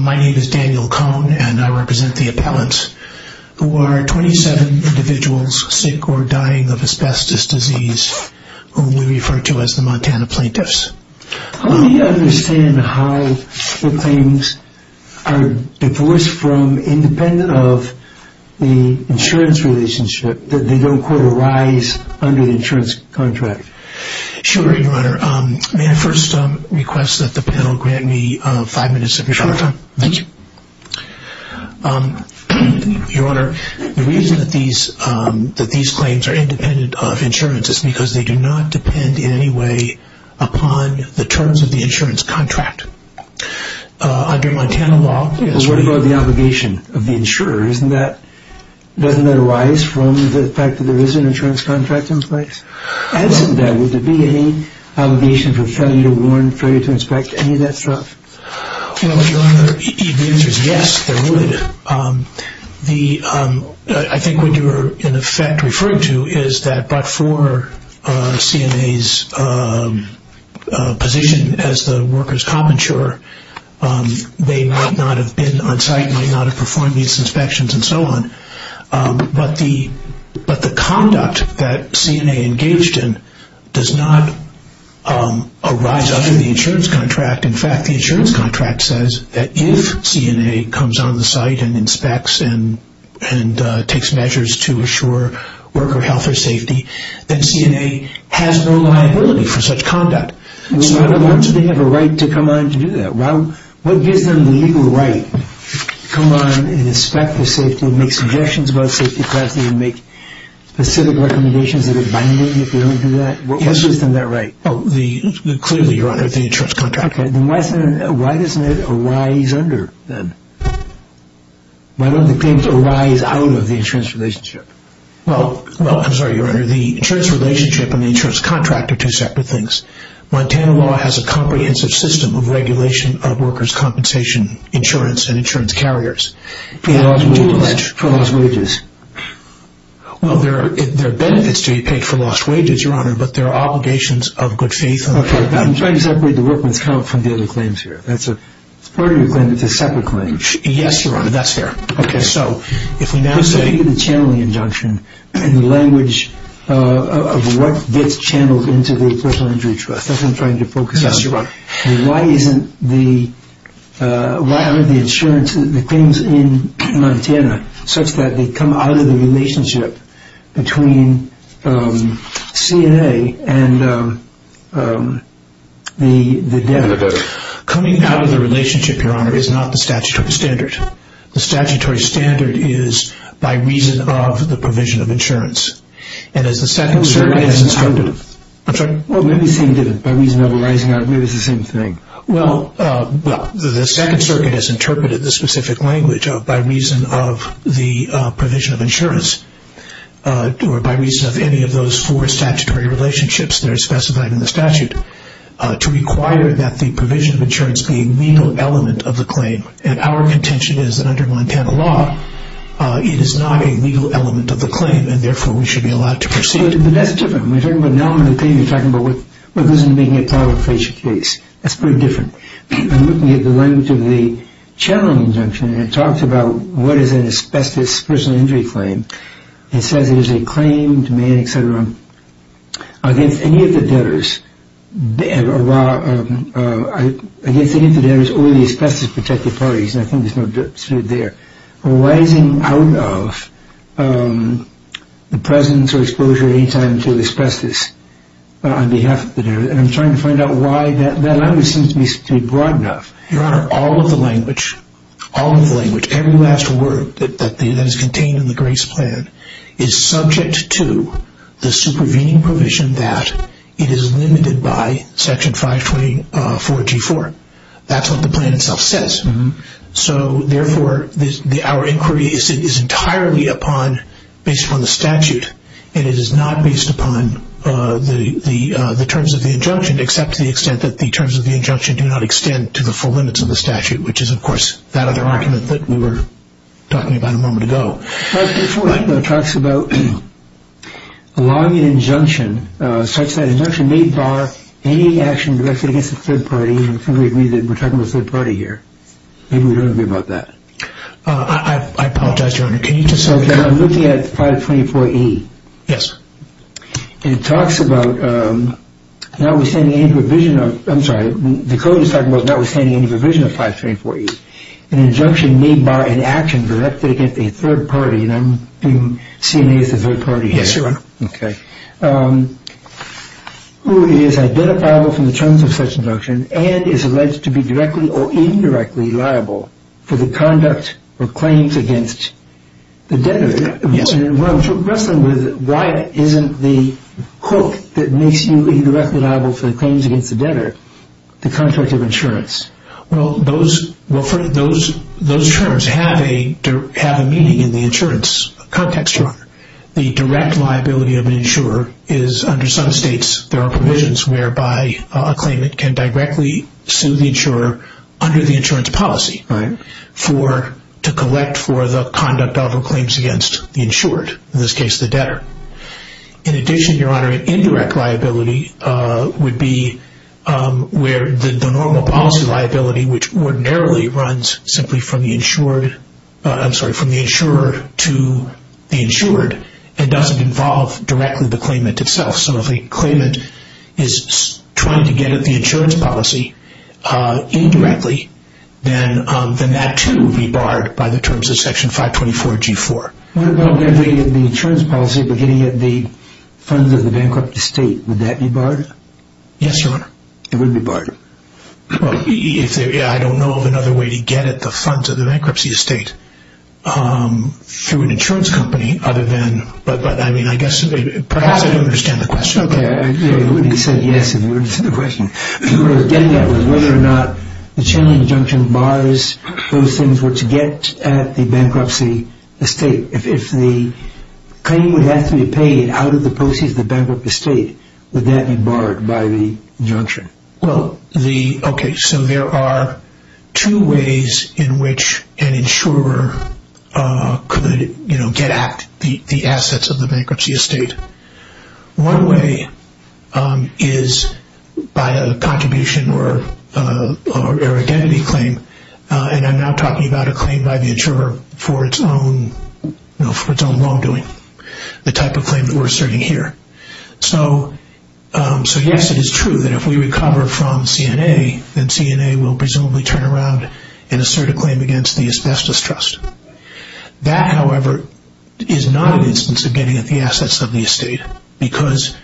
My name is Daniel Cohn and I represent the appellant who are 27 individuals sick or dying of asbestos disease whom we refer to as the Montana plaintiffs. How do you understand how the claims are divorced from, independent of the insurance relationship that they don't quote, arise under the insurance contract? Sure, Your Honor. May I first request that the panel grant me five minutes of your time? Sure. Thank you. Your Honor, the reason that these claims are independent of insurance is because they do not depend in any way upon the terms of the insurance contract. Under Montana law... So what about the obligation of the insurer? Doesn't that arise from the fact that there is an insurance contract in place? Well... And in that, would there be any obligation for failure to warn, failure to inspect, any of that stuff? Well, Your Honor, the answer is yes, there would. I think what you are, in effect, referring to is that, but for CNA's position as the workers' cop insurer, they might not have been on site, might not have performed these inspections and so on. But the conduct that CNA engaged in does not arise under the insurance contract. In fact, the insurance contract says that if CNA comes on the site and inspects and takes measures to assure worker health or safety, then CNA has no liability for such conduct. Well, why would they have a right to come on to do that? What gives them the legal right to come on and inspect for safety and make suggestions about safety and make specific recommendations that are binding if they don't do that? What gives them that right? Oh, clearly, Your Honor, the insurance contract. Okay, then why doesn't it arise under then? Why don't the claims arise out of the insurance relationship? Well, I'm sorry, Your Honor, the insurance relationship and the insurance contract are two separate things. Montana law has a comprehensive system of regulation of workers' compensation insurance and insurance carriers. For lost wages? Well, there are benefits to be paid for lost wages, Your Honor, but there are obligations of good faith. Okay, I'm trying to separate the workman's comp from the other claims here. That's a separate claim. Yes, Your Honor, that's fair. Okay, so if we now look at the channeling injunction and the language of what gets channeled into the Personal Injury Trust, that's what I'm trying to focus on. Yes, Your Honor. Why isn't the insurance, the claims in Montana such that they come out of the relationship between CNA and the debtors? Coming out of the relationship, Your Honor, is not the statutory standard. The statutory standard is by reason of the provision of insurance. And as the Second Circuit has interpreted... Maybe it's the same thing. Well, the Second Circuit has interpreted the specific language of by reason of the provision of insurance, or by reason of any of those four statutory relationships that are specified in the statute, to require that the provision of insurance be a legal element of the claim. And our contention is that under Montana law, it is not a legal element of the claim, and therefore we should be allowed to proceed. But that's different. When you're talking about an element of the claim, you're talking about what goes into making it part of a facial case. That's pretty different. I'm looking at the language of the channeling injunction, and it talks about what is in the asbestos personal injury claim. It says it is a claim to man, etc., against any of the debtors, or the asbestos protected parties, and I think there's no dispute there, arising out of the presence or exposure at any time to asbestos on behalf of the debtors. And I'm trying to find out why that language seems to be broad enough. Your Honor, all of the language, all of the language, every last word that is contained in the grace plan, is subject to the supervening provision that it is limited by Section 524G4. That's what the plan itself says. So therefore, our inquiry is entirely based upon the statute, and it is not based upon the terms of the injunction, except to the extent that the limits of the statute, which is, of course, that other argument that we were talking about a moment ago. But it talks about allowing an injunction, such that an injunction may bar any action directed against a third party, and I think we agree that we're talking about a third party here. Maybe we don't agree about that. I apologize, Your Honor. Can you just say... Okay, I'm looking at 524E. Yes. And it talks about notwithstanding any provision of, I'm sorry, the code is talking about notwithstanding any provision of 524E, an injunction may bar an action directed against a third party, and I'm seeing it as a third party here. Yes, Your Honor. Okay. Who is identifiable from the terms of such an injunction and is alleged to be directly or indirectly liable for the conduct or claims against the debtors. Yes. And what I'm wrestling with, why isn't the quote that makes you directly liable for the claims against the debtor the contract of insurance? Well, those terms have a meaning in the insurance context, Your Honor. The direct liability of an insurer is under some states there are provisions whereby a claimant can directly sue the insurer under the insurance policy to collect for the conduct of or claims against the insured, in this case the debtor. In addition, Your Honor, an indirect liability would be where the normal policy liability which ordinarily runs simply from the insured, I'm sorry, from the insurer to the insured and doesn't involve directly the claimant itself. So if a claimant is trying to get at the insurance policy indirectly, then that too would be barred by the terms of Section 524G4. What about getting at the insurance policy but getting at the funds of the bankrupt estate? Would that be barred? Yes, Your Honor. It would be barred. Well, I don't know of another way to get at the funds of the bankruptcy estate through an insurance company other than, but I mean, I guess perhaps I don't understand the question. Okay. I would have said yes if you understood the question. What I was getting at was whether or not the chain injunction bars those things which get at the bankruptcy estate. If the claim would have to be paid out of the proceeds of the bankrupt estate, would that be barred by the injunction? Well, the, okay, so there are two ways in which an insurer could, you know, get at the assets of the bankruptcy estate. One way is by a contribution or an identity claim, and I'm now talking about a claim by the insurer for its own wrongdoing, the type of claim that we're asserting here. So yes, it is true that if we recover from CNA, then CNA will presumably turn around and assert a claim against the asbestos trust. That, however, is not an instance of getting at the assets of the estate because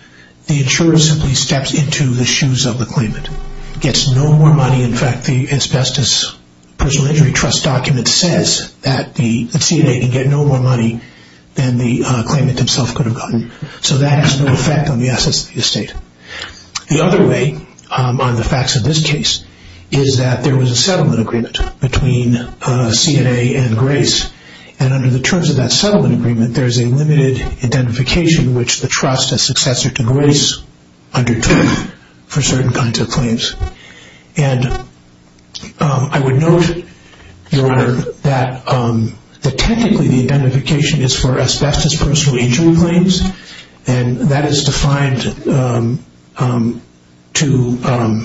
the insurer simply steps into the shoes of the claimant, gets no more money. In fact, the asbestos personal injury trust document says that the CNA can get no more money than the claimant himself could have gotten. So that has no effect on the assets of the estate. The other way on the facts of this case is that there was a settlement agreement between CNA and Grace, and under the terms of that settlement agreement, there is a limited identification which the trust, as successor to Grace, undertook for certain kinds of claims. And I would note, Your Honor, that technically the identification is for asbestos personal injury claims, and that is defined to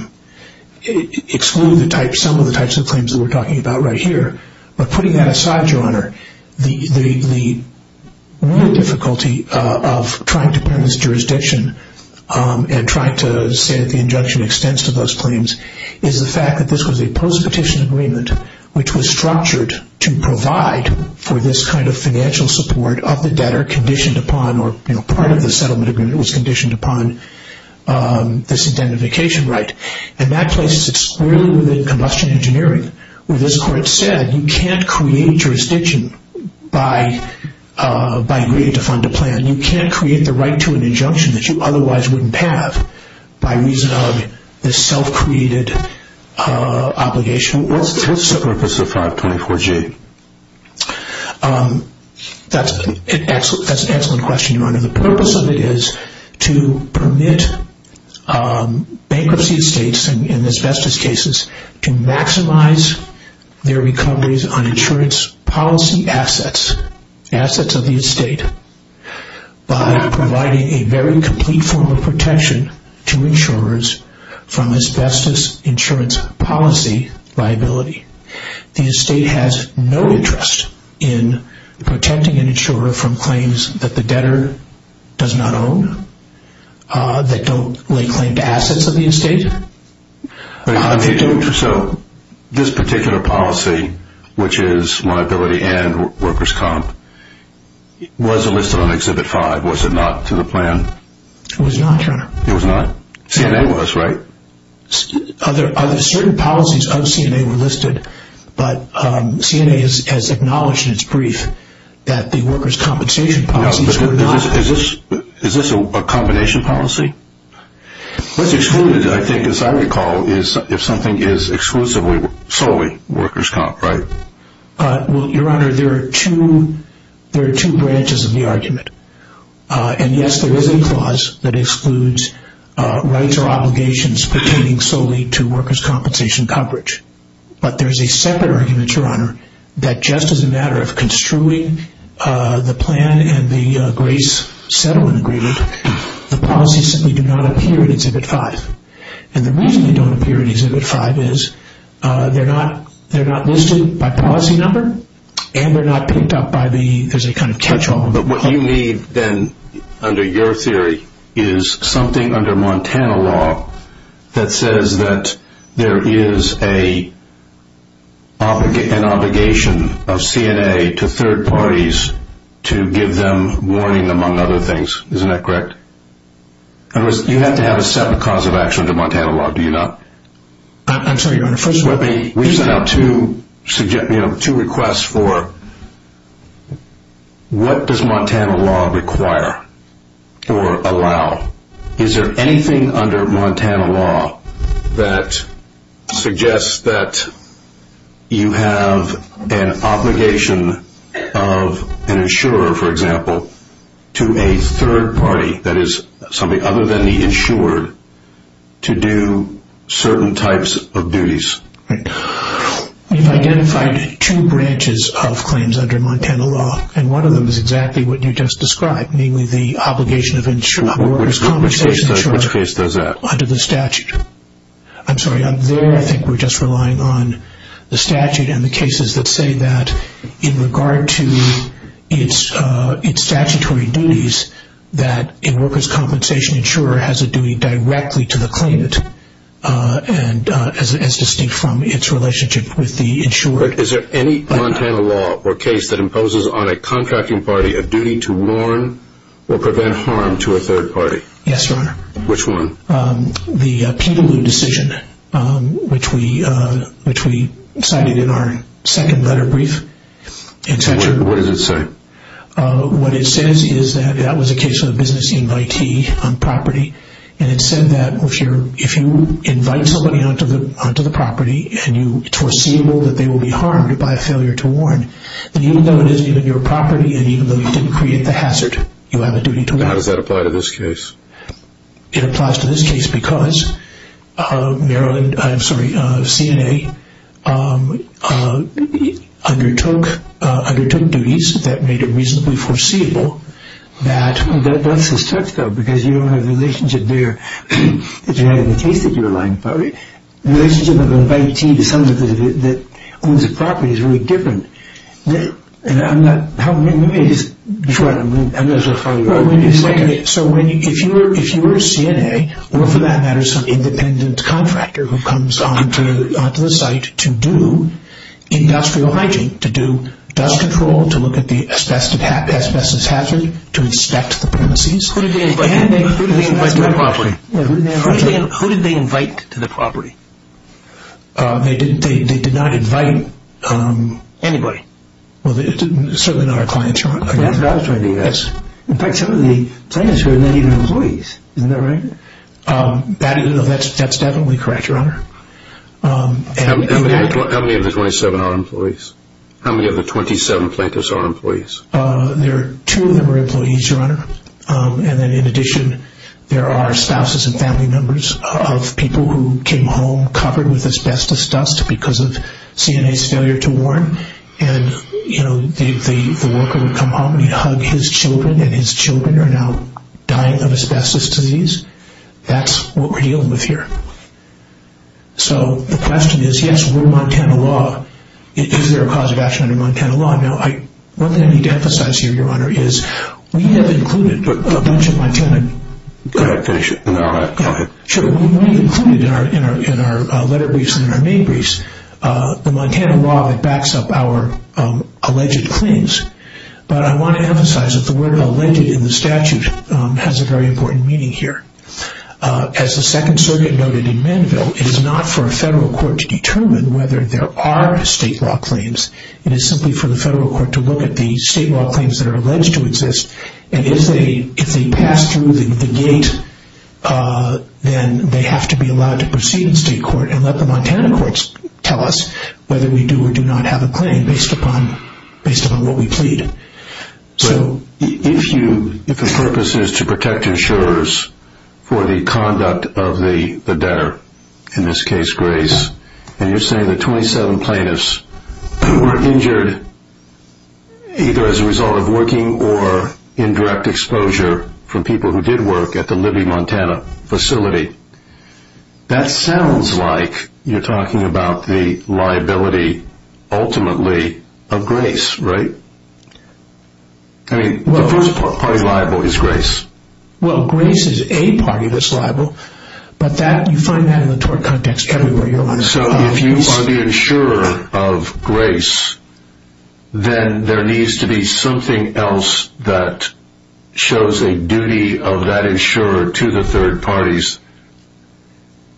exclude some of the types of claims that we're talking about right here. But putting that aside, Your Honor, the real difficulty of trying to put in this jurisdiction and trying to say that the injunction extends to those claims is the fact that this was a post-petition agreement which was structured to provide for this kind of financial support of the debtor conditioned upon or part of the settlement agreement was conditioned upon this identification right. And that places it squarely within combustion engineering. Where this Court said you can't create jurisdiction by agreeing to fund a plan. You can't create the right to an injunction that you otherwise wouldn't have by reason of this self-created obligation. What's the purpose of 524G? That's an excellent question, Your Honor. The purpose of it is to permit bankruptcy estates in asbestos cases to maximize their recoveries on insurance policy assets, assets of the estate, by providing a very complete form of protection to insurers from asbestos insurance policy liability. The estate has no interest in protecting an insurer from claims that the debtor does not own, that don't lay claim to assets of the estate. So this particular policy, which is liability and workers' comp, was it listed on Exhibit 5? Was it not to the plan? It was not, Your Honor. It was not? CNA was, right? Other certain policies of CNA were listed, but CNA has acknowledged in its brief that the workers' compensation policies were not. Is this a combination policy? What's excluded, I think, as I recall, is if something is exclusively solely workers' comp, right? Well, Your Honor, there are two branches of the argument. And, yes, there is a clause that excludes rights or obligations pertaining solely to workers' compensation coverage. But there's a separate argument, Your Honor, that just as a matter of construing the plan and the grace settlement agreement, the policies simply do not appear in Exhibit 5. And the reason they don't appear in Exhibit 5 is they're not listed by policy number and they're not picked up by the—there's a kind of catch-all. But what you need, then, under your theory, is something under Montana law that says that there is an obligation of CNA to third parties to give them warning, among other things. Isn't that correct? In other words, you have to have a separate cause of action under Montana law, do you not? I'm sorry, Your Honor, first of all— We sent out two requests for what does Montana law require or allow. Is there anything under Montana law that suggests that you have an obligation of an insurer, for example, to a third party, that is, somebody other than the insured, to do certain types of duties? We've identified two branches of claims under Montana law, and one of them is exactly what you just described, namely the obligation of insured workers' compensation. Which case does that? Under the statute. I'm sorry, up there, I think we're just relying on the statute and the cases that say that in regard to its statutory duties, that a workers' compensation insurer has a duty directly to the claimant, as distinct from its relationship with the insurer. Is there any Montana law or case that imposes on a contracting party a duty to warn or prevent harm to a third party? Yes, Your Honor. Which one? The Peterloo decision, which we cited in our second letter brief. What does it say? What it says is that that was a case of a business invitee on property, and it said that if you invite somebody onto the property and you foreseeable that they will be harmed by a failure to warn, then even though it isn't even your property and even though you didn't create the hazard, you have a duty to warn. How does that apply to this case? It applies to this case because Maryland, I'm sorry, CNA undertook duties that made it reasonably foreseeable that... That's a stretch, though, because you don't have the relationship there that you had in the case that you were lying about. The relationship of an invitee to someone that owns a property is really different. I'm not sure how you are going to explain it. So if you were CNA or, for that matter, some independent contractor who comes onto the site to do industrial hygiene, to do dust control, to look at the asbestos hazard, to inspect the premises... Who did they invite to the property? Who did they invite to the property? They did not invite... Well, certainly not our client, Your Honor. In fact, some of the plaintiffs were not even employees. Isn't that right? That's definitely correct, Your Honor. How many of the 27 are employees? How many of the 27 plaintiffs are employees? Two of them are employees, Your Honor. And then in addition, there are spouses and family members of people who came home covered with asbestos dust because of CNA's failure to warn. And, you know, the worker would come home and hug his children and his children are now dying of asbestos disease. That's what we're dealing with here. So the question is, yes, we're Montana law. Is there a cause of action under Montana law? Now, one thing I need to emphasize here, Your Honor, is we have included a bunch of Montana... Go ahead. Finish it. No, go ahead. Sure. We've included in our letter briefs and in our main briefs the Montana law that backs up our alleged claims. But I want to emphasize that the word alleged in the statute has a very important meaning here. As the Second Circuit noted in Mandeville, it is not for a federal court to determine whether there are state law claims. It is simply for the federal court to look at the state law claims that are alleged to exist. And if they pass through the gate, then they have to be allowed to proceed in state court and let the Montana courts tell us whether we do or do not have a claim based upon what we plead. If the purpose is to protect insurers for the conduct of the debtor, in this case, Grace, and you're saying that 27 plaintiffs were injured either as a result of working or indirect exposure from people who did work at the Libby, Montana facility, that sounds like you're talking about the liability, ultimately, of Grace, right? I mean, the first party liable is Grace. Well, Grace is a party that's liable, but you find that in the tort context everywhere. So if you are the insurer of Grace, then there needs to be something else that shows a duty of that insurer to the third parties.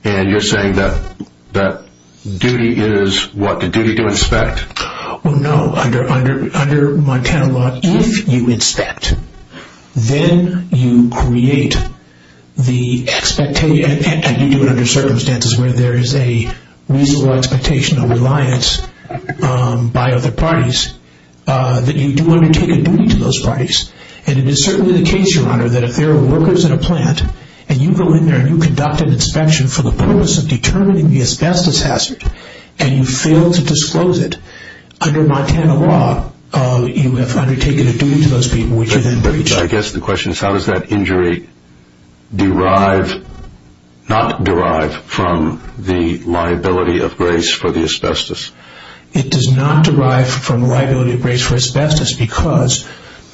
And you're saying that duty is, what, the duty to inspect? Well, no, under Montana law, if you inspect, then you create the expectation, and you do it under circumstances where there is a reasonable expectation of reliance by other parties, that you do undertake a duty to those parties. And it is certainly the case, Your Honor, that if there are workers at a plant, and you go in there and you conduct an inspection for the purpose of determining the asbestos hazard, and you fail to disclose it, under Montana law, you have undertaken a duty to those people, which you then breach. But I guess the question is, how does that injury not derive from the liability of Grace for the asbestos? It does not derive from the liability of Grace for asbestos because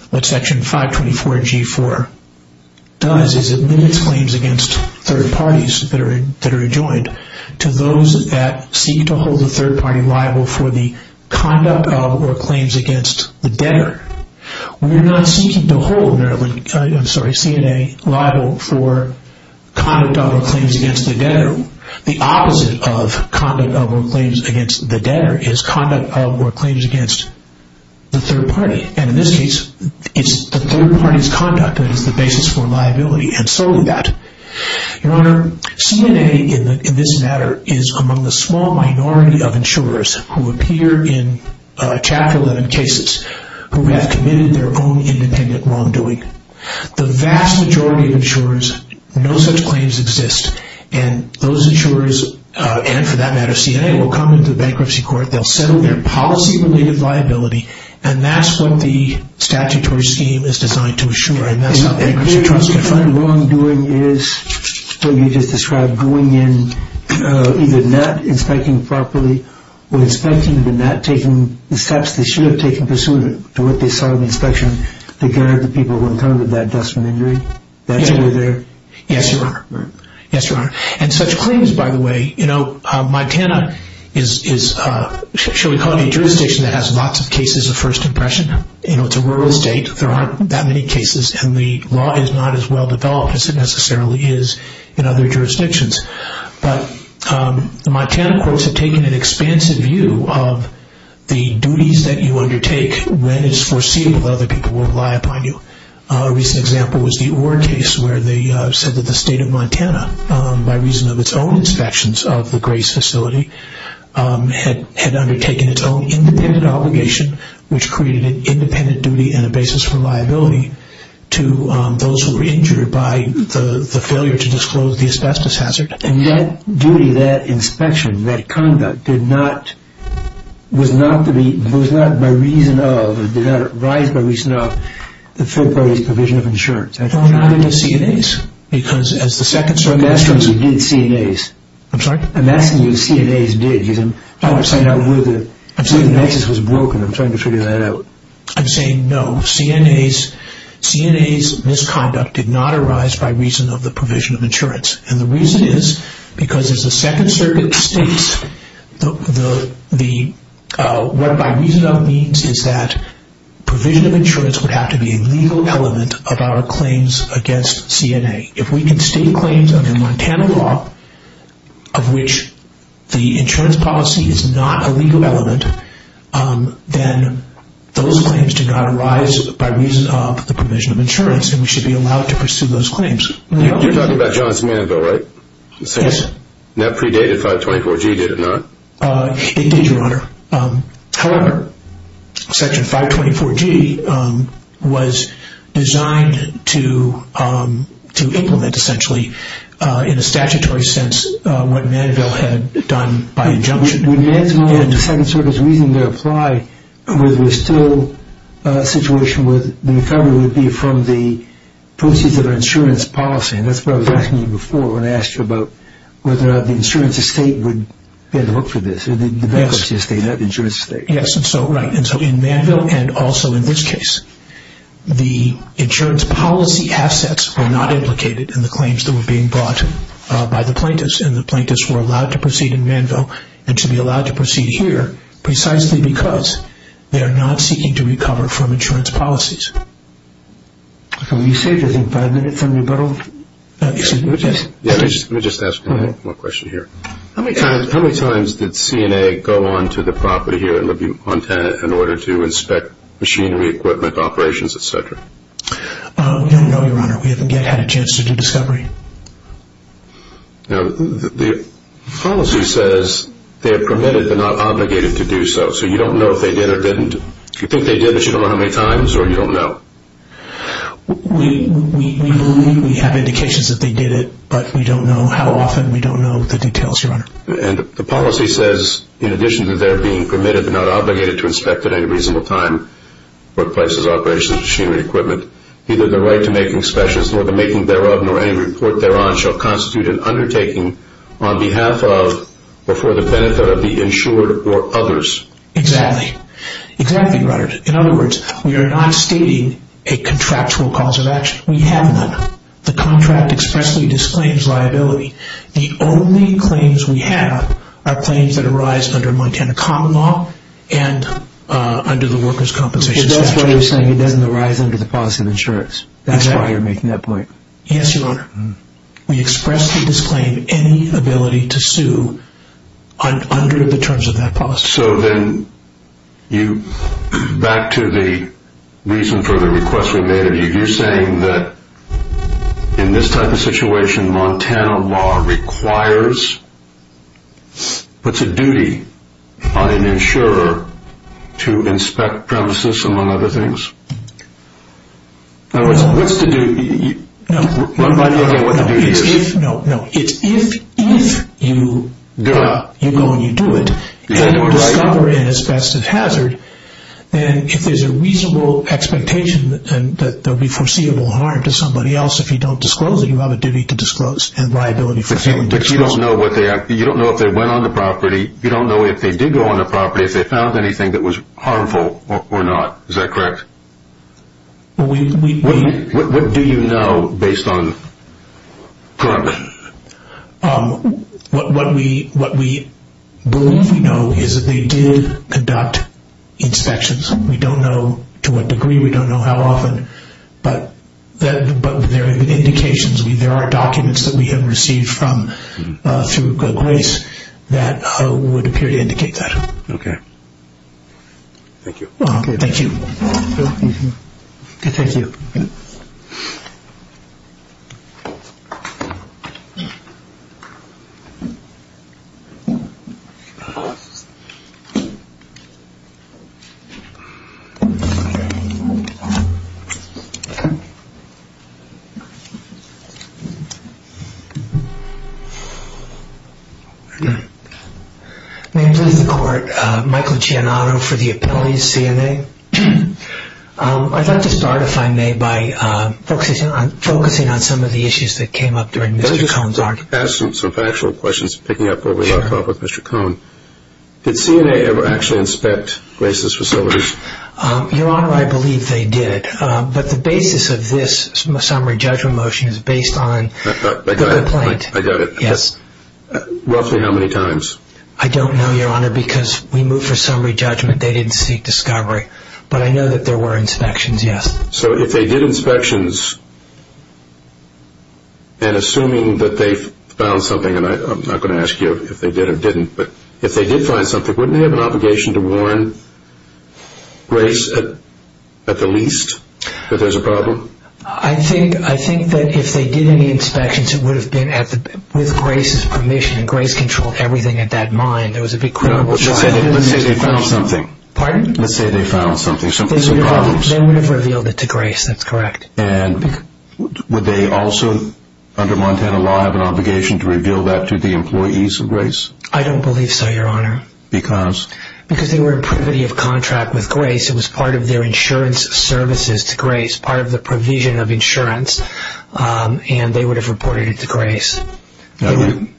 what Section 524G4 does is it limits claims against third parties that are adjoined to those that seek to hold the third party liable for the conduct of or claims against the debtor. We're not seeking to hold CNA liable for conduct of or claims against the debtor. The opposite of conduct of or claims against the debtor is conduct of or claims against the third party. And in this case, it's the third party's conduct that is the basis for liability, and solely that. Your Honor, CNA in this matter is among the small minority of insurers who appear in Chapter 11 cases who have committed their own independent wrongdoing. The vast majority of insurers know such claims exist, and those insurers, and for that matter CNA, will come into the bankruptcy court, they'll settle their policy-related liability, and that's what the statutory scheme is designed to assure, and that's how the bankruptcy court is going to find them. And your concept of wrongdoing is what you just described, going in, either not inspecting properly, or inspecting but not taking the steps they should have taken pursuant to what they saw in the inspection to guard the people who encountered that dustman injury? Yes, Your Honor. Yes, Your Honor. And such claims, by the way, you know, Montana is, shall we call it a jurisdiction that has lots of cases of first impression. You know, it's a rural state, there aren't that many cases, and the law is not as well-developed as it necessarily is in other jurisdictions. But the Montana courts have taken an expansive view of the duties that you undertake when it's foreseeable that other people will rely upon you. A recent example was the Orr case, where they said that the state of Montana, by reason of its own inspections of the Grace facility, had undertaken its own independent obligation, which created an independent duty and a basis for liability to those who were injured by the failure to disclose the asbestos hazard. And that duty, that inspection, that conduct, did not, was not to be, was not by reason of, did not arise by reason of the third party's provision of insurance. Well, not in the CNAs. Because as the second circumstance... I'm asking you who did CNAs. I'm sorry? I'm asking you who CNAs did. I'm trying to figure that out. I'm saying, no, CNAs, CNAs' misconduct did not arise by reason of the provision of insurance. And the reason is, because as the second circumstance states, what by reason of means is that provision of insurance would have to be a legal element of our claims against CNA. If we can state claims under Montana law, of which the insurance policy is not a legal element, then those claims do not arise by reason of the provision of insurance, You're talking about John's Mandeville, right? Yes. That predated 524G, did it not? It did, Your Honor. However, Section 524G was designed to implement, essentially, in a statutory sense, what Mandeville had done by injunction. When Mandeville and the second circumstance reason to apply, the recovery would be from the proceeds of the insurance policy. That's what I was asking you before when I asked you about whether the insurance estate would be able to look for this, the bankruptcy estate, not the insurance estate. Yes. Right. In Mandeville and also in this case, the insurance policy assets were not implicated in the claims that were being brought by the plaintiffs. And the plaintiffs were allowed to proceed in Mandeville and to be allowed to proceed here precisely because they are not seeking to recover from insurance policies. You saved, I think, five minutes on rebuttal. Let me just ask one more question here. How many times did CNA go on to the property here in Libby, Montana, in order to inspect machinery, equipment, operations, et cetera? No, Your Honor. We haven't yet had a chance to do discovery. Now, the policy says they are permitted but not obligated to do so. So you don't know if they did or didn't. Do you think they did but you don't know how many times or you don't know? We have indications that they did it, but we don't know how often. We don't know the details, Your Honor. And the policy says in addition to their being permitted but not obligated to inspect at any reasonable time what places, operations, machinery, equipment, neither the right to make inspections nor the making thereof nor any report thereon shall constitute an undertaking on behalf of or for the benefit of the insured or others. Exactly. Exactly, Your Honor. In other words, we are not stating a contractual cause of action. We have none. The contract expressly disclaims liability. The only claims we have are claims that arise under Montana common law and under the workers' compensation statute. That's why you're saying it doesn't arise under the policy of insurance. That's why you're making that point. Yes, Your Honor. We expressly disclaim any ability to sue under the terms of that policy. So then you, back to the reason for the request we made of you, you're saying that in this type of situation Montana law requires, puts a duty on an insurer to inspect premises among other things? No. What's the duty? No. One by the other, what the duty is? No, no. It's if you go and you do it and you discover an asbestos hazard, then if there's a reasonable expectation that there will be foreseeable harm to somebody else if you don't disclose it, you have a duty to disclose and liability for failing to disclose. But you don't know if they went on the property. You don't know if they did go on the property, if they found anything that was harmful or not. Is that correct? What do you know based on, currently? What we believe we know is that they did conduct inspections. We don't know to what degree. We don't know how often, but there are indications. There are documents that we have received through Grace that would appear to indicate that. Okay. Thank you. Thank you. Thank you. May it please the Court, Michael Giannato for the appellee's CNA. I'd like to start, if I may, by focusing on some of the issues that came up during Mr. Cohn's argument. Let me just ask some factual questions, picking up where we left off with Mr. Cohn. Did CNA ever actually inspect Grace's facilities? Your Honor, I believe they did. But the basis of this summary judgment motion is based on the complaint. I got it. Yes. Roughly how many times? I don't know, Your Honor, because we moved for summary judgment. They didn't seek discovery. But I know that there were inspections, yes. So if they did inspections, and assuming that they found something, and I'm not going to ask you if they did or didn't, but if they did find something, wouldn't they have an obligation to warn Grace, at the least, that there's a problem? I think that if they did any inspections, it would have been with Grace's permission, and Grace controlled everything at that mine. There was a big criminal charge. Let's say they found something. Pardon? Let's say they found something, some problems. They would have revealed it to Grace. That's correct. And would they also, under Montana law, have an obligation to reveal that to the employees of Grace? I don't believe so, Your Honor. Because? Because they were in privity of contract with Grace. It was part of their insurance services to Grace, part of the provision of insurance, and they would have reported it to Grace.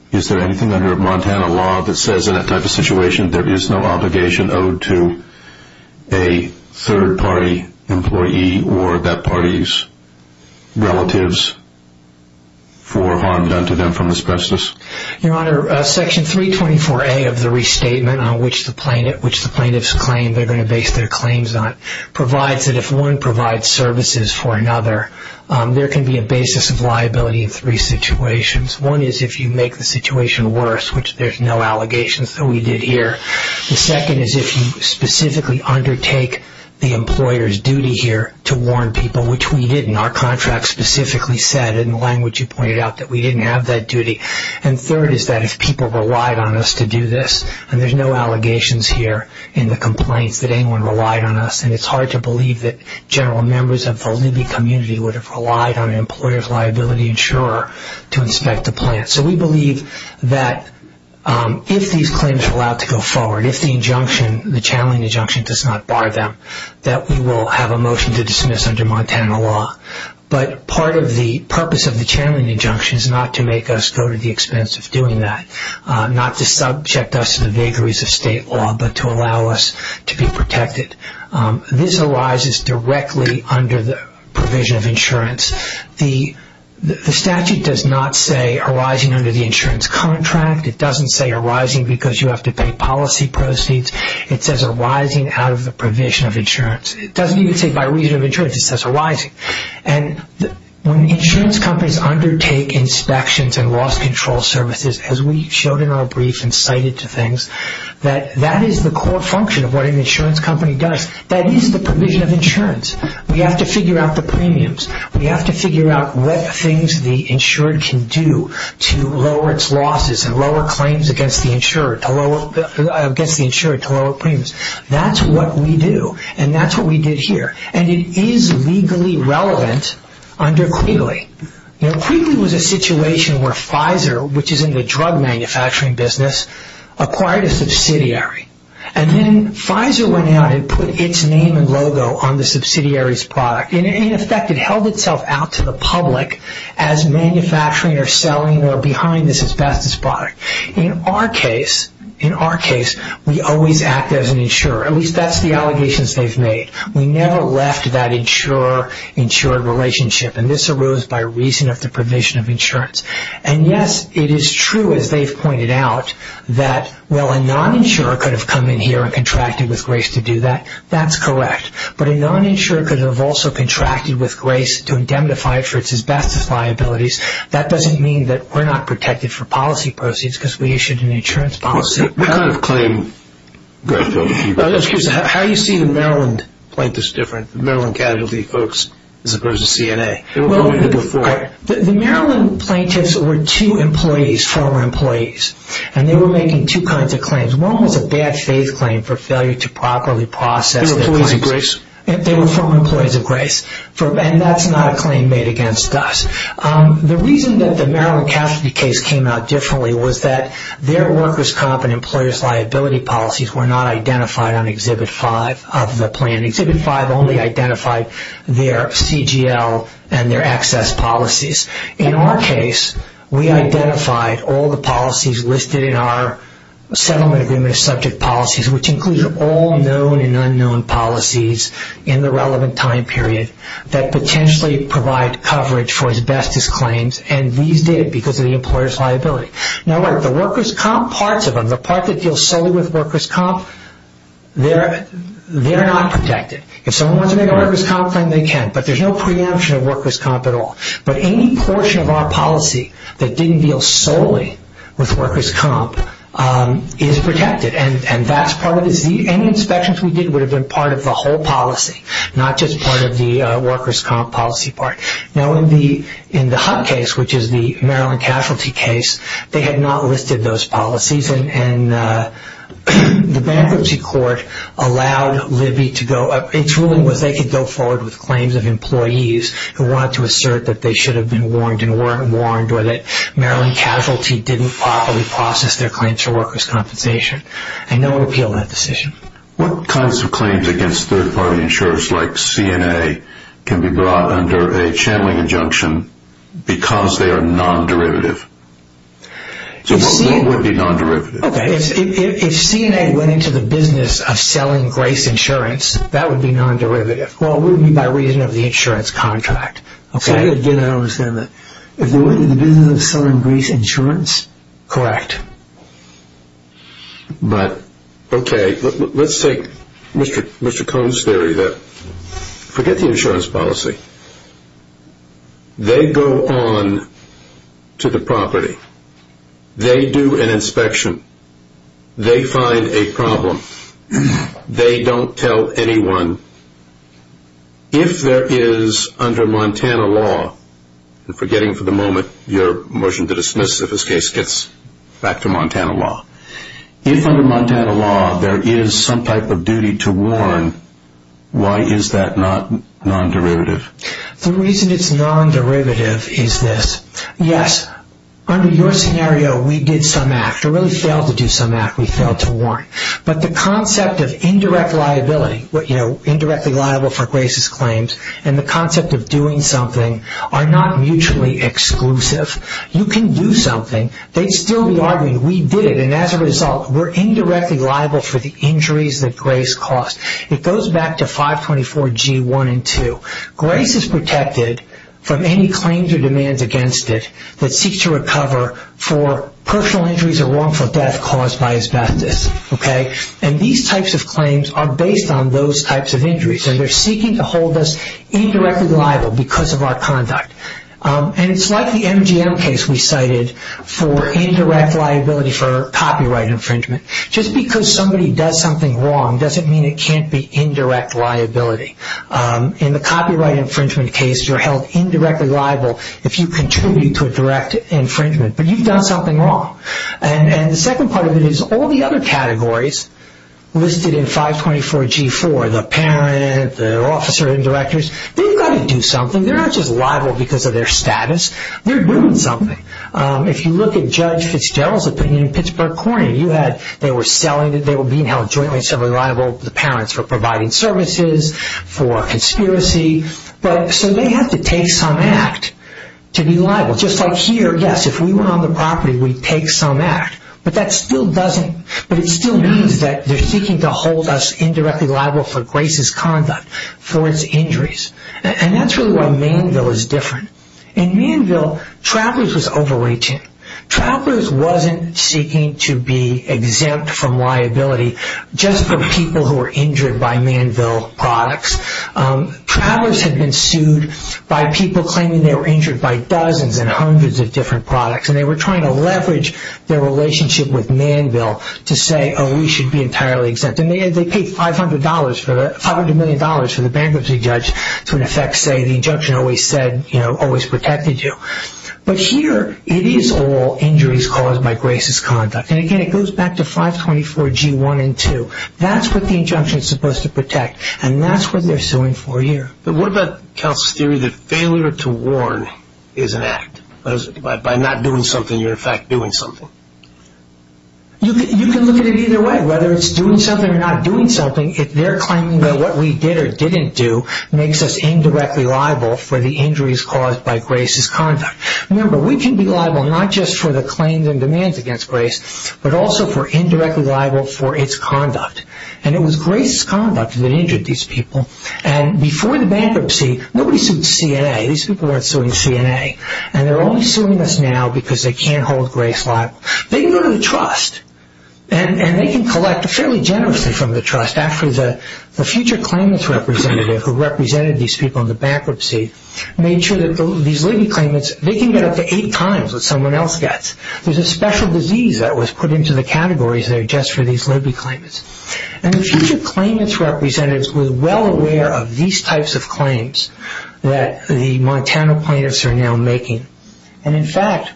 Is there anything under Montana law that says in that type of situation there is no obligation owed to a third-party employee or that party's relatives for harm done to them from asbestos? Your Honor, Section 324A of the restatement, which the plaintiffs claim they're going to base their claims on, provides that if one provides services for another, there can be a basis of liability in three situations. One is if you make the situation worse, which there's no allegations that we did here. The second is if you specifically undertake the employer's duty here to warn people, which we didn't. Our contract specifically said, in the language you pointed out, that we didn't have that duty. And third is that if people relied on us to do this, and there's no allegations here in the complaints that anyone relied on us, and it's hard to believe that general members of the Libby community would have relied on an employer's liability insurer to inspect the plant. So we believe that if these claims are allowed to go forward, if the injunction, the channeling injunction, does not bar them, that we will have a motion to dismiss under Montana law. But part of the purpose of the channeling injunction is not to make us go to the expense of doing that, not to subject us to the vagaries of state law, but to allow us to be protected. This arises directly under the provision of insurance. The statute does not say arising under the insurance contract. It doesn't say arising because you have to pay policy proceeds. It says arising out of the provision of insurance. It doesn't even say by reason of insurance. It says arising. And when insurance companies undertake inspections and loss control services, as we showed in our brief and cited to things, that that is the core function of what an insurance company does. That is the provision of insurance. We have to figure out the premiums. We have to figure out what things the insurer can do to lower its losses and lower claims against the insurer to lower premiums. That's what we do. And that's what we did here. And it is legally relevant under Quigley. Quigley was a situation where Pfizer, which is in the drug manufacturing business, acquired a subsidiary. And then Pfizer went out and put its name and logo on the subsidiary's product. In effect, it held itself out to the public as manufacturing or selling or behind this asbestos product. In our case, we always act as an insurer. At least that's the allegations they've made. We never left that insurer-insured relationship. And this arose by reason of the provision of insurance. And yes, it is true, as they've pointed out, that a non-insurer could have come in here and contracted with Grace to do that. That's correct. But a non-insurer could have also contracted with Grace to indemnify for its asbestos liabilities. That doesn't mean that we're not protected for policy proceeds because we issued an insurance policy. What kind of claim? How do you see the Maryland plaintiffs different, the Maryland casualty folks, as opposed to CNA? The Maryland plaintiffs were two employees, former employees. And they were making two kinds of claims. They were former employees of Grace. And that's not a claim made against us. The reason that the Maryland casualty case came out differently was that their workers' comp and employers' liability policies were not identified on Exhibit 5 of the plan. Exhibit 5 only identified their CGL and their excess policies. In our case, we identified all the policies listed in our settlement agreement of subject policies, which included all known and unknown policies in the relevant time period that potentially provide coverage for asbestos claims. And these did because of the employers' liability. Now, the workers' comp parts of them, the part that deals solely with workers' comp, they're not protected. If someone wants to make a workers' comp claim, they can. But there's no preemption of workers' comp at all. But any portion of our policy that didn't deal solely with workers' comp is protected. And that's part of it. Any inspections we did would have been part of the whole policy, not just part of the workers' comp policy part. Now, in the Hunt case, which is the Maryland casualty case, they had not listed those policies. And the bankruptcy court allowed Libby to go up. Its ruling was they could go forward with claims of employees who wanted to assert that they should have been warned or that Maryland casualty didn't properly process their claims for workers' compensation. And no one appealed that decision. What kinds of claims against third-party insurers like CNA can be brought under a channeling injunction because they are non-derivative? So what would be non-derivative? If CNA went into the business of selling Grace Insurance, that would be non-derivative. Well, it would be by reason of the insurance contract. So, again, I don't understand that. If they went into the business of selling Grace Insurance, correct. But, okay, let's take Mr. Cone's theory. Forget the insurance policy. They go on to the property. They do an inspection. They find a problem. They don't tell anyone. If there is, under Montana law, and forgetting for the moment your motion to dismiss if this case gets back to Montana law, if under Montana law there is some type of duty to warn, why is that not non-derivative? The reason it's non-derivative is this. Yes, under your scenario, we did some act. We really failed to do some act. We failed to warn. But the concept of indirect liability, you know, indirectly liable for Grace's claims, and the concept of doing something are not mutually exclusive. You can do something. They'd still be arguing we did it. And as a result, we're indirectly liable for the injuries that Grace caused. It goes back to 524G1 and 2. Grace is protected from any claims or demands against it that seeks to recover for personal injuries or wrongful death caused by asbestos. And these types of claims are based on those types of injuries, and they're seeking to hold us indirectly liable because of our conduct. And it's like the MGM case we cited for indirect liability for copyright infringement. Just because somebody does something wrong doesn't mean it can't be indirect liability. In the copyright infringement case, you're held indirectly liable if you contribute to a direct infringement. But you've done something wrong. And the second part of it is all the other categories listed in 524G4, the parent, the officer and directors, they've got to do something. They're not just liable because of their status. They're doing something. If you look at Judge Fitzgerald's opinion in Pittsburgh Court, they were being held jointly and separately liable to the parents for providing services, for conspiracy. So they have to take some act to be liable. Just like here, yes, if we were on the property, we'd take some act. But it still means that they're seeking to hold us indirectly liable for Grace's conduct, for its injuries. And that's really why Mainville is different. In Mainville, Travelers was overreaching. Travelers wasn't seeking to be exempt from liability just for people who were injured by Mainville products. Travelers had been sued by people claiming they were injured by dozens and hundreds of different products. And they were trying to leverage their relationship with Mainville to say, oh, we should be entirely exempt. And they paid $500 million for the bankruptcy judge to, in effect, say the injunction always protected you. But here, it is all injuries caused by Grace's conduct. And again, it goes back to 524G1 and 2. That's what the injunction is supposed to protect. And that's what they're suing for here. But what about Counsel's theory that failure to warn is an act? By not doing something, you're, in fact, doing something. You can look at it either way, whether it's doing something or not doing something. If they're claiming that what we did or didn't do makes us indirectly liable for the injuries caused by Grace's conduct. Remember, we can be liable not just for the claims and demands against Grace, but also for indirectly liable for its conduct. And it was Grace's conduct that injured these people. And before the bankruptcy, nobody sued CNA. These people weren't suing CNA. And they're only suing us now because they can't hold Grace liable. They can go to the trust. And they can collect fairly generously from the trust. Actually, the future claimants representative who represented these people in the bankruptcy made sure that these legal claimants, they can get up to eight times what someone else gets. There's a special disease that was put into the categories there just for these legal claimants. And the future claimants representatives were well aware of these types of claims that the Montana plaintiffs are now making. And, in fact,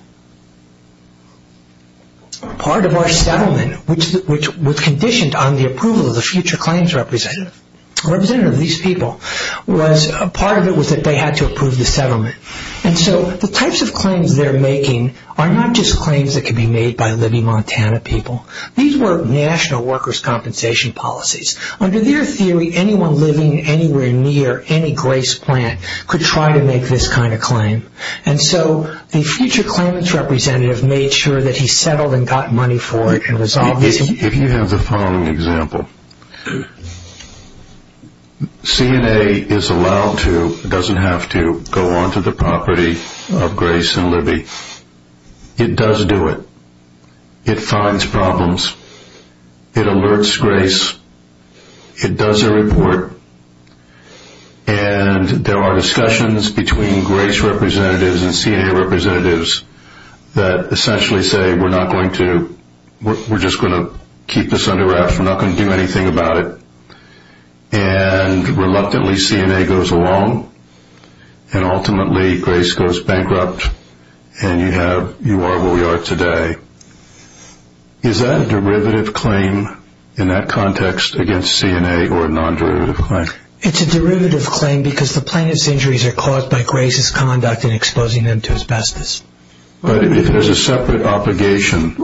part of our settlement, which was conditioned on the approval of the future claims representative, representative of these people, was part of it was that they had to approve the settlement. And so the types of claims they're making are not just claims that can be made by living Montana people. These were national workers' compensation policies. Under their theory, anyone living anywhere near any Grace plant could try to make this kind of claim. And so the future claimants representative made sure that he settled and got money for it. If you have the following example, CNA is allowed to, doesn't have to, go onto the property of Grace and Libby. It does do it. It finds problems. It alerts Grace. It does a report. And there are discussions between Grace representatives and CNA representatives that essentially say we're not going to, we're just going to keep this under wraps. We're not going to do anything about it. And reluctantly CNA goes along. And ultimately Grace goes bankrupt. And you have, you are where we are today. Is that a derivative claim in that context against CNA or a non-derivative claim? It's a derivative claim because the plaintiff's injuries are caused by Grace's conduct in exposing them to asbestos. But if there's a separate obligation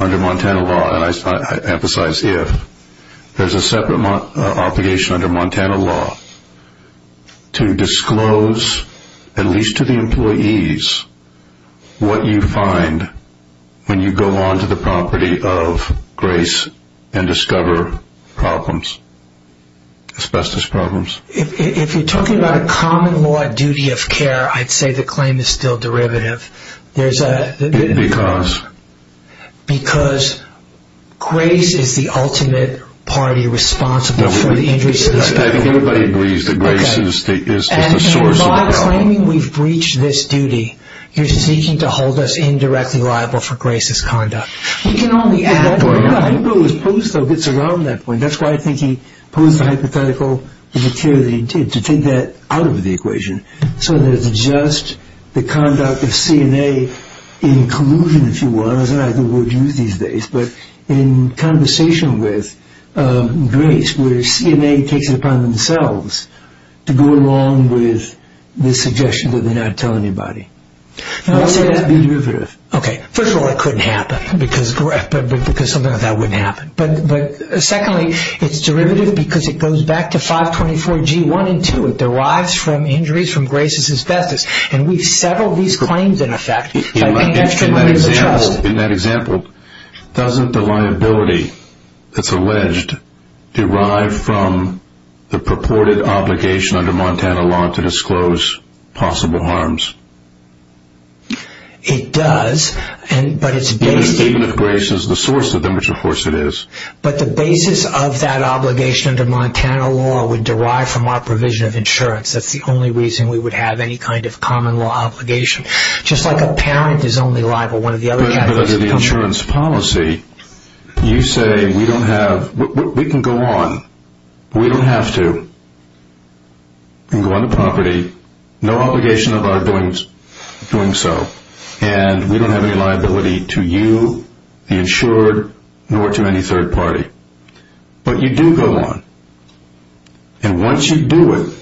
under Montana law, and I emphasize if, there's a separate obligation under Montana law to disclose, at least to the employees, what you find when you go onto the property of Grace and discover problems. Asbestos problems. If you're talking about a common law duty of care, I'd say the claim is still derivative. Because? Because Grace is the ultimate party responsible for the injuries. I think everybody agrees that Grace is the source of the problem. If you're claiming we've breached this duty, you're seeking to hold us indirectly liable for Grace's conduct. He can only add to our crime. I think what was posed, though, gets around that point. That's why I think he posed the hypothetical of the care that he did, to take that out of the equation. So that it's just the conduct of CNA in collusion, if you will. I don't know how the word's used these days. But in conversation with Grace, where CNA takes it upon themselves to go along with the suggestion that they're not telling anybody. I would say that would be derivative. Okay. First of all, it couldn't happen, because something like that wouldn't happen. But secondly, it's derivative because it goes back to 524G1 and 2. It derives from injuries from Grace's asbestos. And we've settled these claims, in effect. In that example, doesn't the liability that's alleged derive from the purported obligation under Montana law to disclose possible harms? It does, but it's based... Even if Grace is the source of them, which of course it is. But the basis of that obligation under Montana law would derive from our provision of insurance. That's the only reason we would have any kind of common law obligation. Just like a parent is only liable when... But under the insurance policy, you say we don't have... We can go on. We don't have to. We can go on the property. No obligation of our doing so. And we don't have any liability to you, the insured, nor to any third party. But you do go on. And once you do it,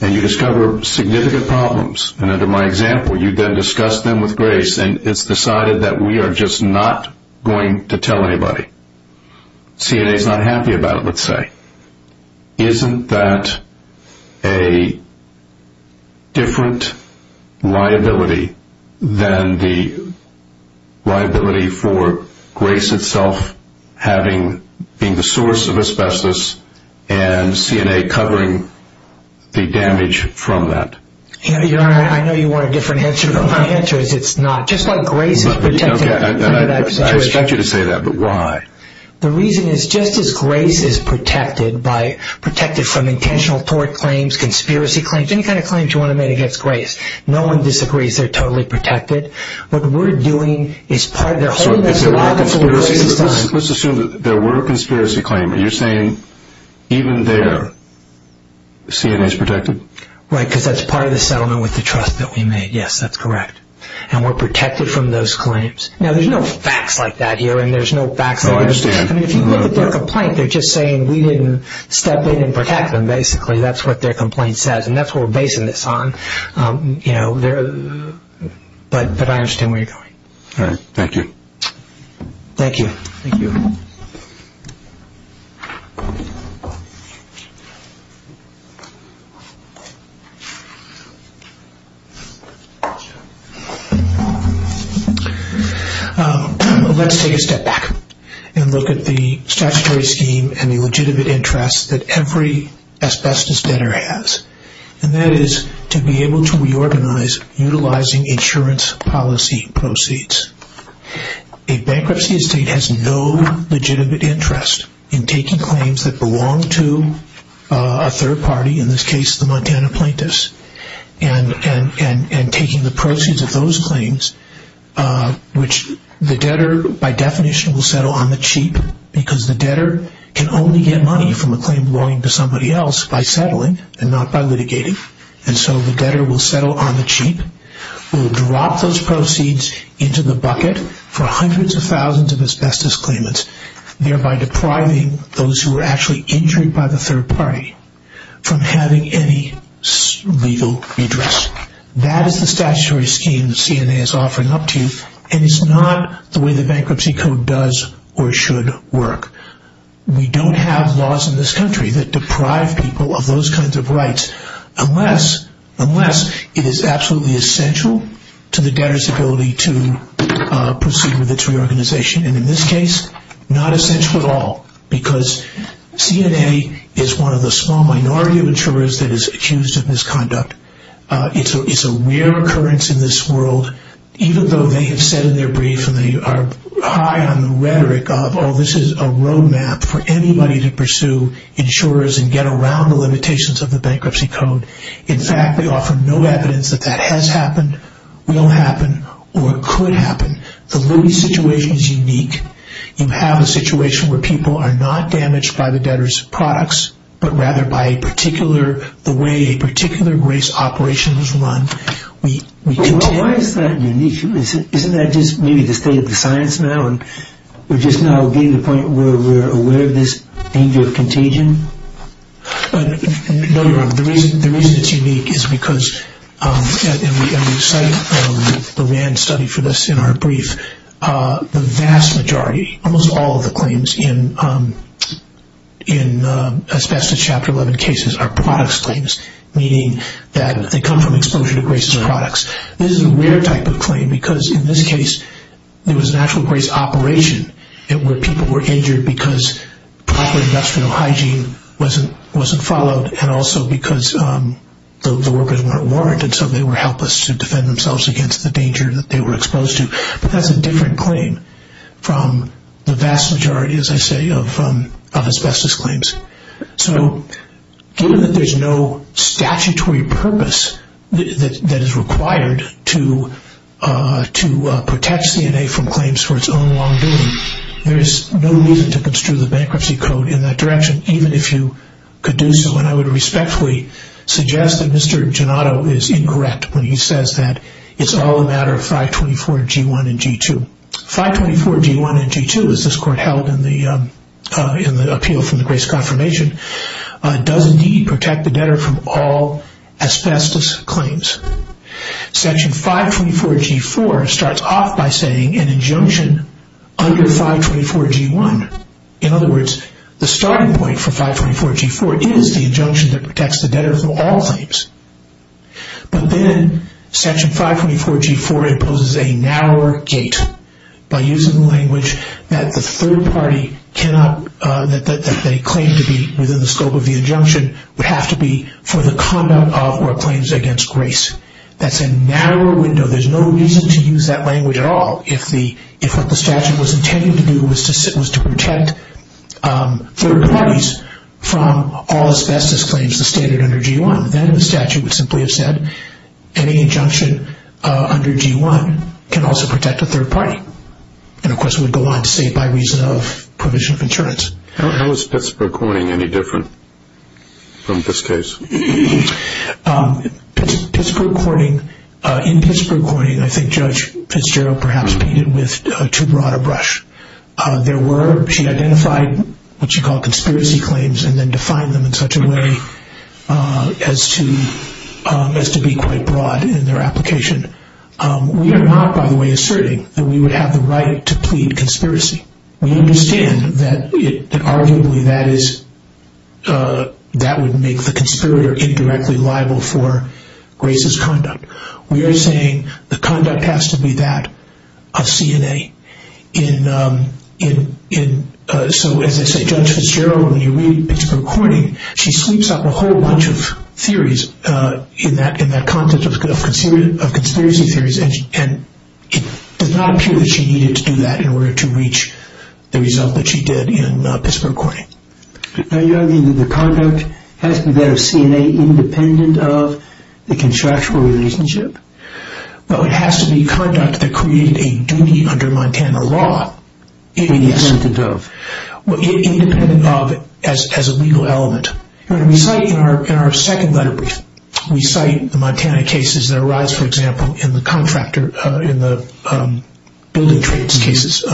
and you discover significant problems... And under my example, you then discuss them with Grace, and it's decided that we are just not going to tell anybody. CNA is not happy about it, let's say. Isn't that a different liability than the liability for Grace itself having... Being the source of asbestos, and CNA covering the damage from that? I know you want a different answer, but my answer is it's not. Just like Grace is protected under that situation. I expect you to say that, but why? The reason is just as Grace is protected by... Protected from intentional tort claims, conspiracy claims, any kind of claims you want to make against Grace. No one disagrees they're totally protected. What we're doing is part of... Let's assume there were a conspiracy claim. Are you saying even there, CNA is protected? Right, because that's part of the settlement with the trust that we made. Yes, that's correct. And we're protected from those claims. Now, there's no facts like that here, and there's no facts... If you look at their complaint, they're just saying we didn't step in and protect them, basically. That's what their complaint says, and that's what we're basing this on. But I understand where you're going. All right, thank you. Thank you. Thank you. Thank you. Let's take a step back and look at the statutory scheme and the legitimate interests that every asbestos debtor has, and that is to be able to reorganize utilizing insurance policy proceeds. A bankruptcy estate has no legitimate interest in taking claims that belong to a third party, in this case the Montana plaintiffs, and taking the proceeds of those claims, which the debtor by definition will settle on the cheap, because the debtor can only get money from a claim owing to somebody else by settling and not by litigating, and so the debtor will settle on the cheap, will drop those proceeds into the bucket for hundreds of thousands of asbestos claimants, thereby depriving those who are actually injured by the third party from having any legal redress. That is the statutory scheme that CNA is offering up to you, and it's not the way the bankruptcy code does or should work. We don't have laws in this country that deprive people of those kinds of rights, unless it is absolutely essential to the debtor's ability to proceed with its reorganization, and in this case, not essential at all, because CNA is one of the small minority of insurers that is accused of misconduct. It's a rare occurrence in this world, even though they have said in their brief and they are high on the rhetoric of, oh, this is a road map for anybody to pursue insurers and get around the limitations of the bankruptcy code. In fact, they offer no evidence that that has happened, will happen, or could happen. The Louis situation is unique. You have a situation where people are not damaged by the debtor's products, but rather by the way a particular race operation was run. Why is that unique? Isn't that just maybe the state of the science now? We're just now getting to the point where we're aware of this danger of contagion? No, you're wrong. The reason it's unique is because, and we cite the RAND study for this in our brief, the vast majority, almost all of the claims in Asbestos Chapter 11 cases are products claims, meaning that they come from exposure to racist products. This is a rare type of claim because in this case, there was an actual race operation where people were injured because proper industrial hygiene wasn't followed and also because the workers weren't warranted, so they were helpless to defend themselves against the danger that they were exposed to. But that's a different claim from the vast majority, as I say, of asbestos claims. So given that there's no statutory purpose that is required to protect CNA from claims for its own long doing, there is no reason to construe the Bankruptcy Code in that direction, even if you could do so, and I would respectfully suggest that Mr. Gennato is incorrect when he says that it's all a matter of 524 G1 and G2. 524 G1 and G2, as this Court held in the appeal from the Grace Confirmation, does indeed protect the debtor from all asbestos claims. Section 524 G4 starts off by saying an injunction under 524 G1. In other words, the starting point for 524 G4 is the injunction that protects the debtor from all claims. But then, Section 524 G4 imposes a narrower gate by using the language that the third party that they claim to be within the scope of the injunction would have to be for the conduct of or claims against Grace. That's a narrower window. There's no reason to use that language at all if what the statute was intended to do was to protect third parties from all asbestos claims that are stated under G1. Then the statute would simply have said any injunction under G1 can also protect a third party. And of course, it would go on to say by reason of provision of insurance. How is Pittsburg Courting any different from this case? In Pittsburg Courting, I think Judge Fitzgerald perhaps painted with too broad a brush. She identified what she called conspiracy claims and then defined them in such a way as to be quite broad in their application. We are not, by the way, asserting that we would have the right to plead conspiracy. We understand that arguably that would make the conspirator indirectly liable for Grace's conduct. We are saying the conduct has to be that of CNA. So as I say, Judge Fitzgerald, when you read Pittsburg Courting, she sleeps up a whole bunch of theories in that context of conspiracy theories. And it does not appear that she needed to do that in order to reach the result that she did in Pittsburg Courting. Are you arguing that the conduct has to be that of CNA independent of the contractual relationship? Well, it has to be conduct that created a duty under Montana law. Independent of? Independent of as a legal element. When we cite in our second letter brief, we cite the Montana cases that arise, for example, in the contractor, in the building trades cases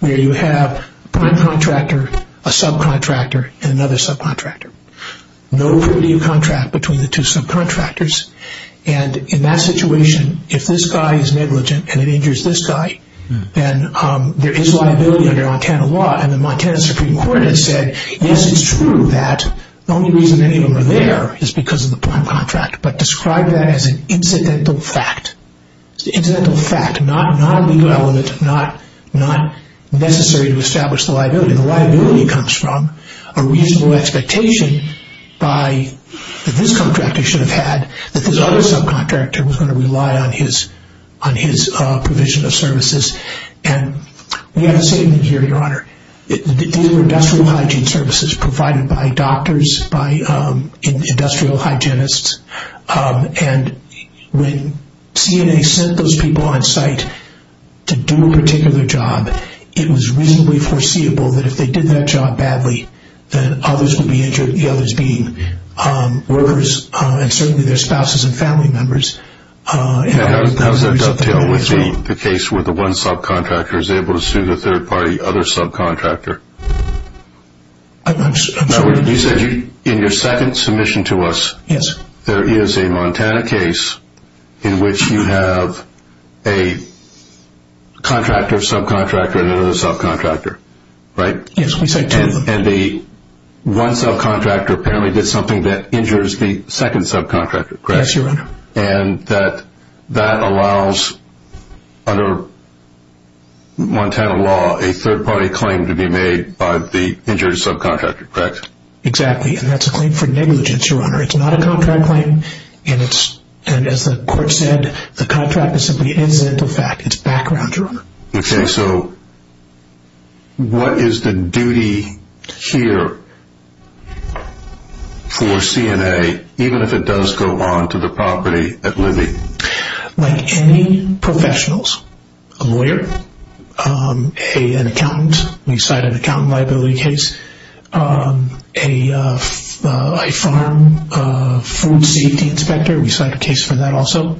where you have prime contractor, a subcontractor, and another subcontractor. No review contract between the two subcontractors. And in that situation, if this guy is negligent and it injures this guy, then there is liability under Montana law. And the Montana Supreme Court has said, yes, it's true that the only reason any of them are there is because of the prime contract. But describe that as an incidental fact. It's an incidental fact, not a legal element, not necessary to establish the liability. The liability comes from a reasonable expectation that this contractor should have had, that this other subcontractor was going to rely on his provision of services. And we have a statement here, Your Honor, that these were industrial hygiene services provided by doctors, by industrial hygienists, and when CNA sent those people on site to do a particular job, it was reasonably foreseeable that if they did that job badly, then others would be injured, the others being workers and certainly their spouses and family members. And how does that dovetail with the case where the one subcontractor is able to sue the third-party other subcontractor? I'm sorry? In your second submission to us, there is a Montana case in which you have a contractor, subcontractor, and another subcontractor, right? Yes, we sent two of them. And the one subcontractor apparently did something that injures the second subcontractor, correct? Yes, Your Honor. And that allows, under Montana law, a third-party claim to be made by the injured subcontractor, correct? Exactly, and that's a claim for negligence, Your Honor. It's not a contract claim, and as the court said, the contract is simply an incidental fact. It's background, Your Honor. Okay, so what is the duty here for CNA, even if it does go on to the property of living? Like any professionals, a lawyer, an accountant, we cite an accountant liability case. A farm food safety inspector, we cite a case for that also.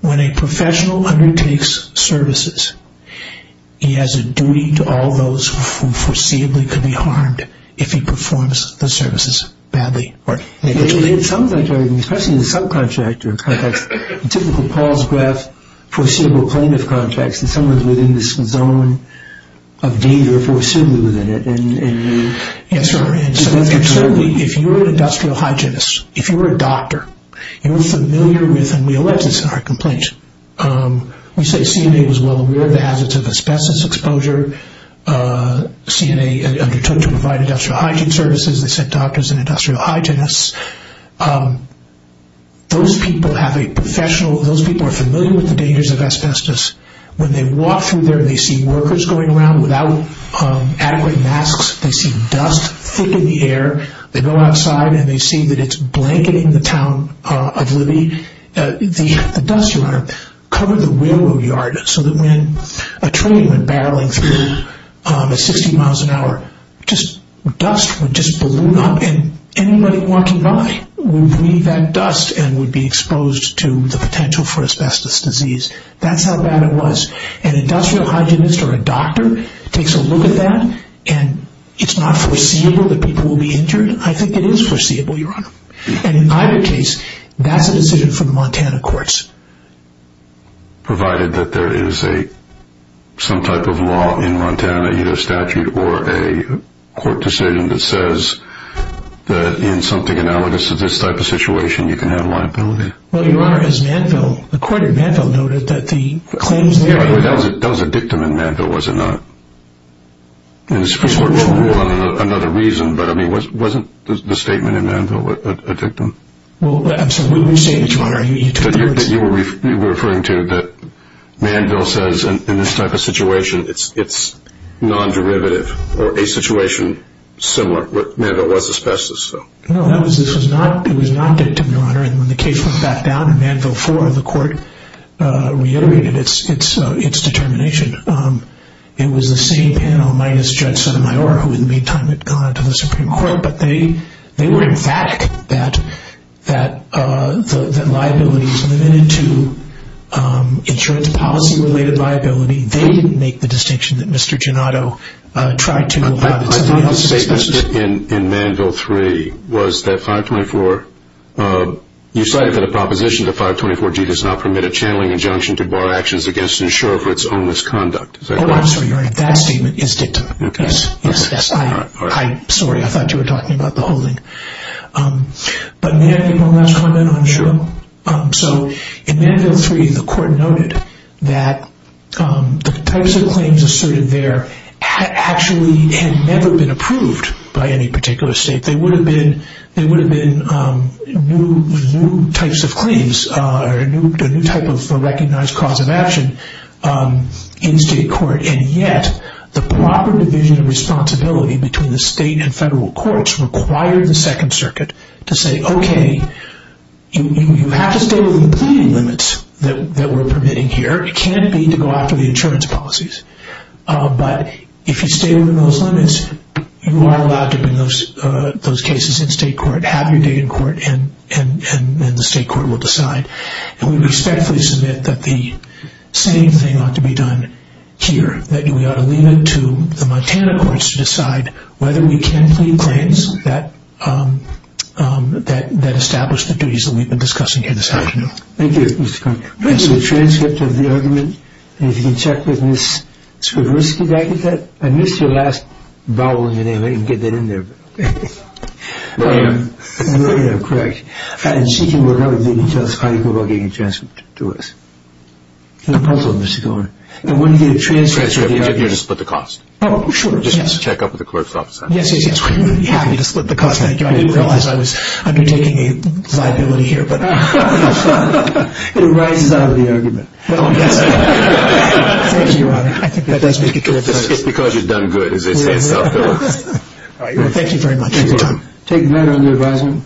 When a professional undertakes services, he has a duty to all those who foreseeably could be harmed if he performs the services badly or negatively. It sounds like, especially in the subcontractor context, typically Paul's graph, foreseeable plaintiff contracts, and someone's within this zone of danger, foreseeably within it. And certainly, if you're an industrial hygienist, if you're a doctor, you're familiar with, and we allege this in our complaint, we say CNA was well aware of the hazards of asbestos exposure. CNA undertook to provide industrial hygiene services. They sent doctors and industrial hygienists. Those people have a professional, those people are familiar with the dangers of asbestos. When they walk through there, they see workers going around without adequate masks. They see dust thick in the air. They go outside, and they see that it's blanketing the town of Libby. The dust, Your Honor, covered the railroad yard so that when a train went barreling through at 60 miles an hour, just dust would just balloon up, and anybody walking by would breathe that dust and would be exposed to the potential for asbestos disease. That's how bad it was. An industrial hygienist or a doctor takes a look at that, and it's not foreseeable that people will be injured. I think it is foreseeable, Your Honor. And in either case, that's a decision from the Montana courts. Provided that there is some type of law in Montana, either a statute or a court decision, that says that in something analogous to this type of situation, you can have a liability. Well, Your Honor, as Manville, the court in Manville noted that the claims there… Yeah, but that was a dictum in Manville, was it not? Hold on, another reason. But, I mean, wasn't the statement in Manville a dictum? Well, I'm sorry, what were you saying, Your Honor? That you were referring to that Manville says in this type of situation it's non-derivative or a situation similar to what Manville was asbestos, so… No, it was not a dictum, Your Honor, and when the case went back down in Manville 4, the court reiterated its determination. It was the same panel minus Judge Sotomayor, who in the meantime had gone to the Supreme Court, but they were emphatic that liability was limited to insurance policy-related liability. They didn't make the distinction that Mr. Gianotto tried to about… I thought the statement in Manville 3 was that 524… You cited that a proposition to 524G does not permit a channeling injunction to bar actions against insurer for its own misconduct. Oh, I'm sorry, Your Honor, that statement is dictum. Okay. Sorry, I thought you were talking about the holding. But may I make one last comment on insurer? Sure. So, in Manville 3, the court noted that the types of claims asserted there actually had never been approved by any particular state. They would have been new types of claims, a new type of recognized cause of action in state court, and yet the proper division of responsibility between the state and federal courts required the Second Circuit to say, okay, you have to stay within the pleading limits that we're permitting here. It can't be to go after the insurance policies. But if you stay within those limits, you are allowed to bring those cases in state court, have your day in court, and the state court will decide. And we respectfully submit that the same thing ought to be done here, that we ought to leave it to the Montana courts to decide whether we can plead claims that establish the duties that we've been discussing here this afternoon. Thank you, Mr. Connolly. This is a transcript of the argument. And if you can check with Ms. Svoboski, did I get that? I missed your last vowel in your name. I didn't get that in there. Yeah, yeah, correct. And she can tell us how you go about getting a transcript to us. It's a puzzle, Mr. Connolly. And when you get a transcript of the argument. Transcript, you just split the cost. Oh, sure, yes. Just check up with the court's office. Yes, yes, yes. Yeah, you just split the cost. I didn't realize I was undertaking a liability here. It arises out of the argument. Thank you, Your Honor. That does make a good point. It's because you've done good, as they say in South Carolina. All right, well, thank you very much. Take the matter under advisement.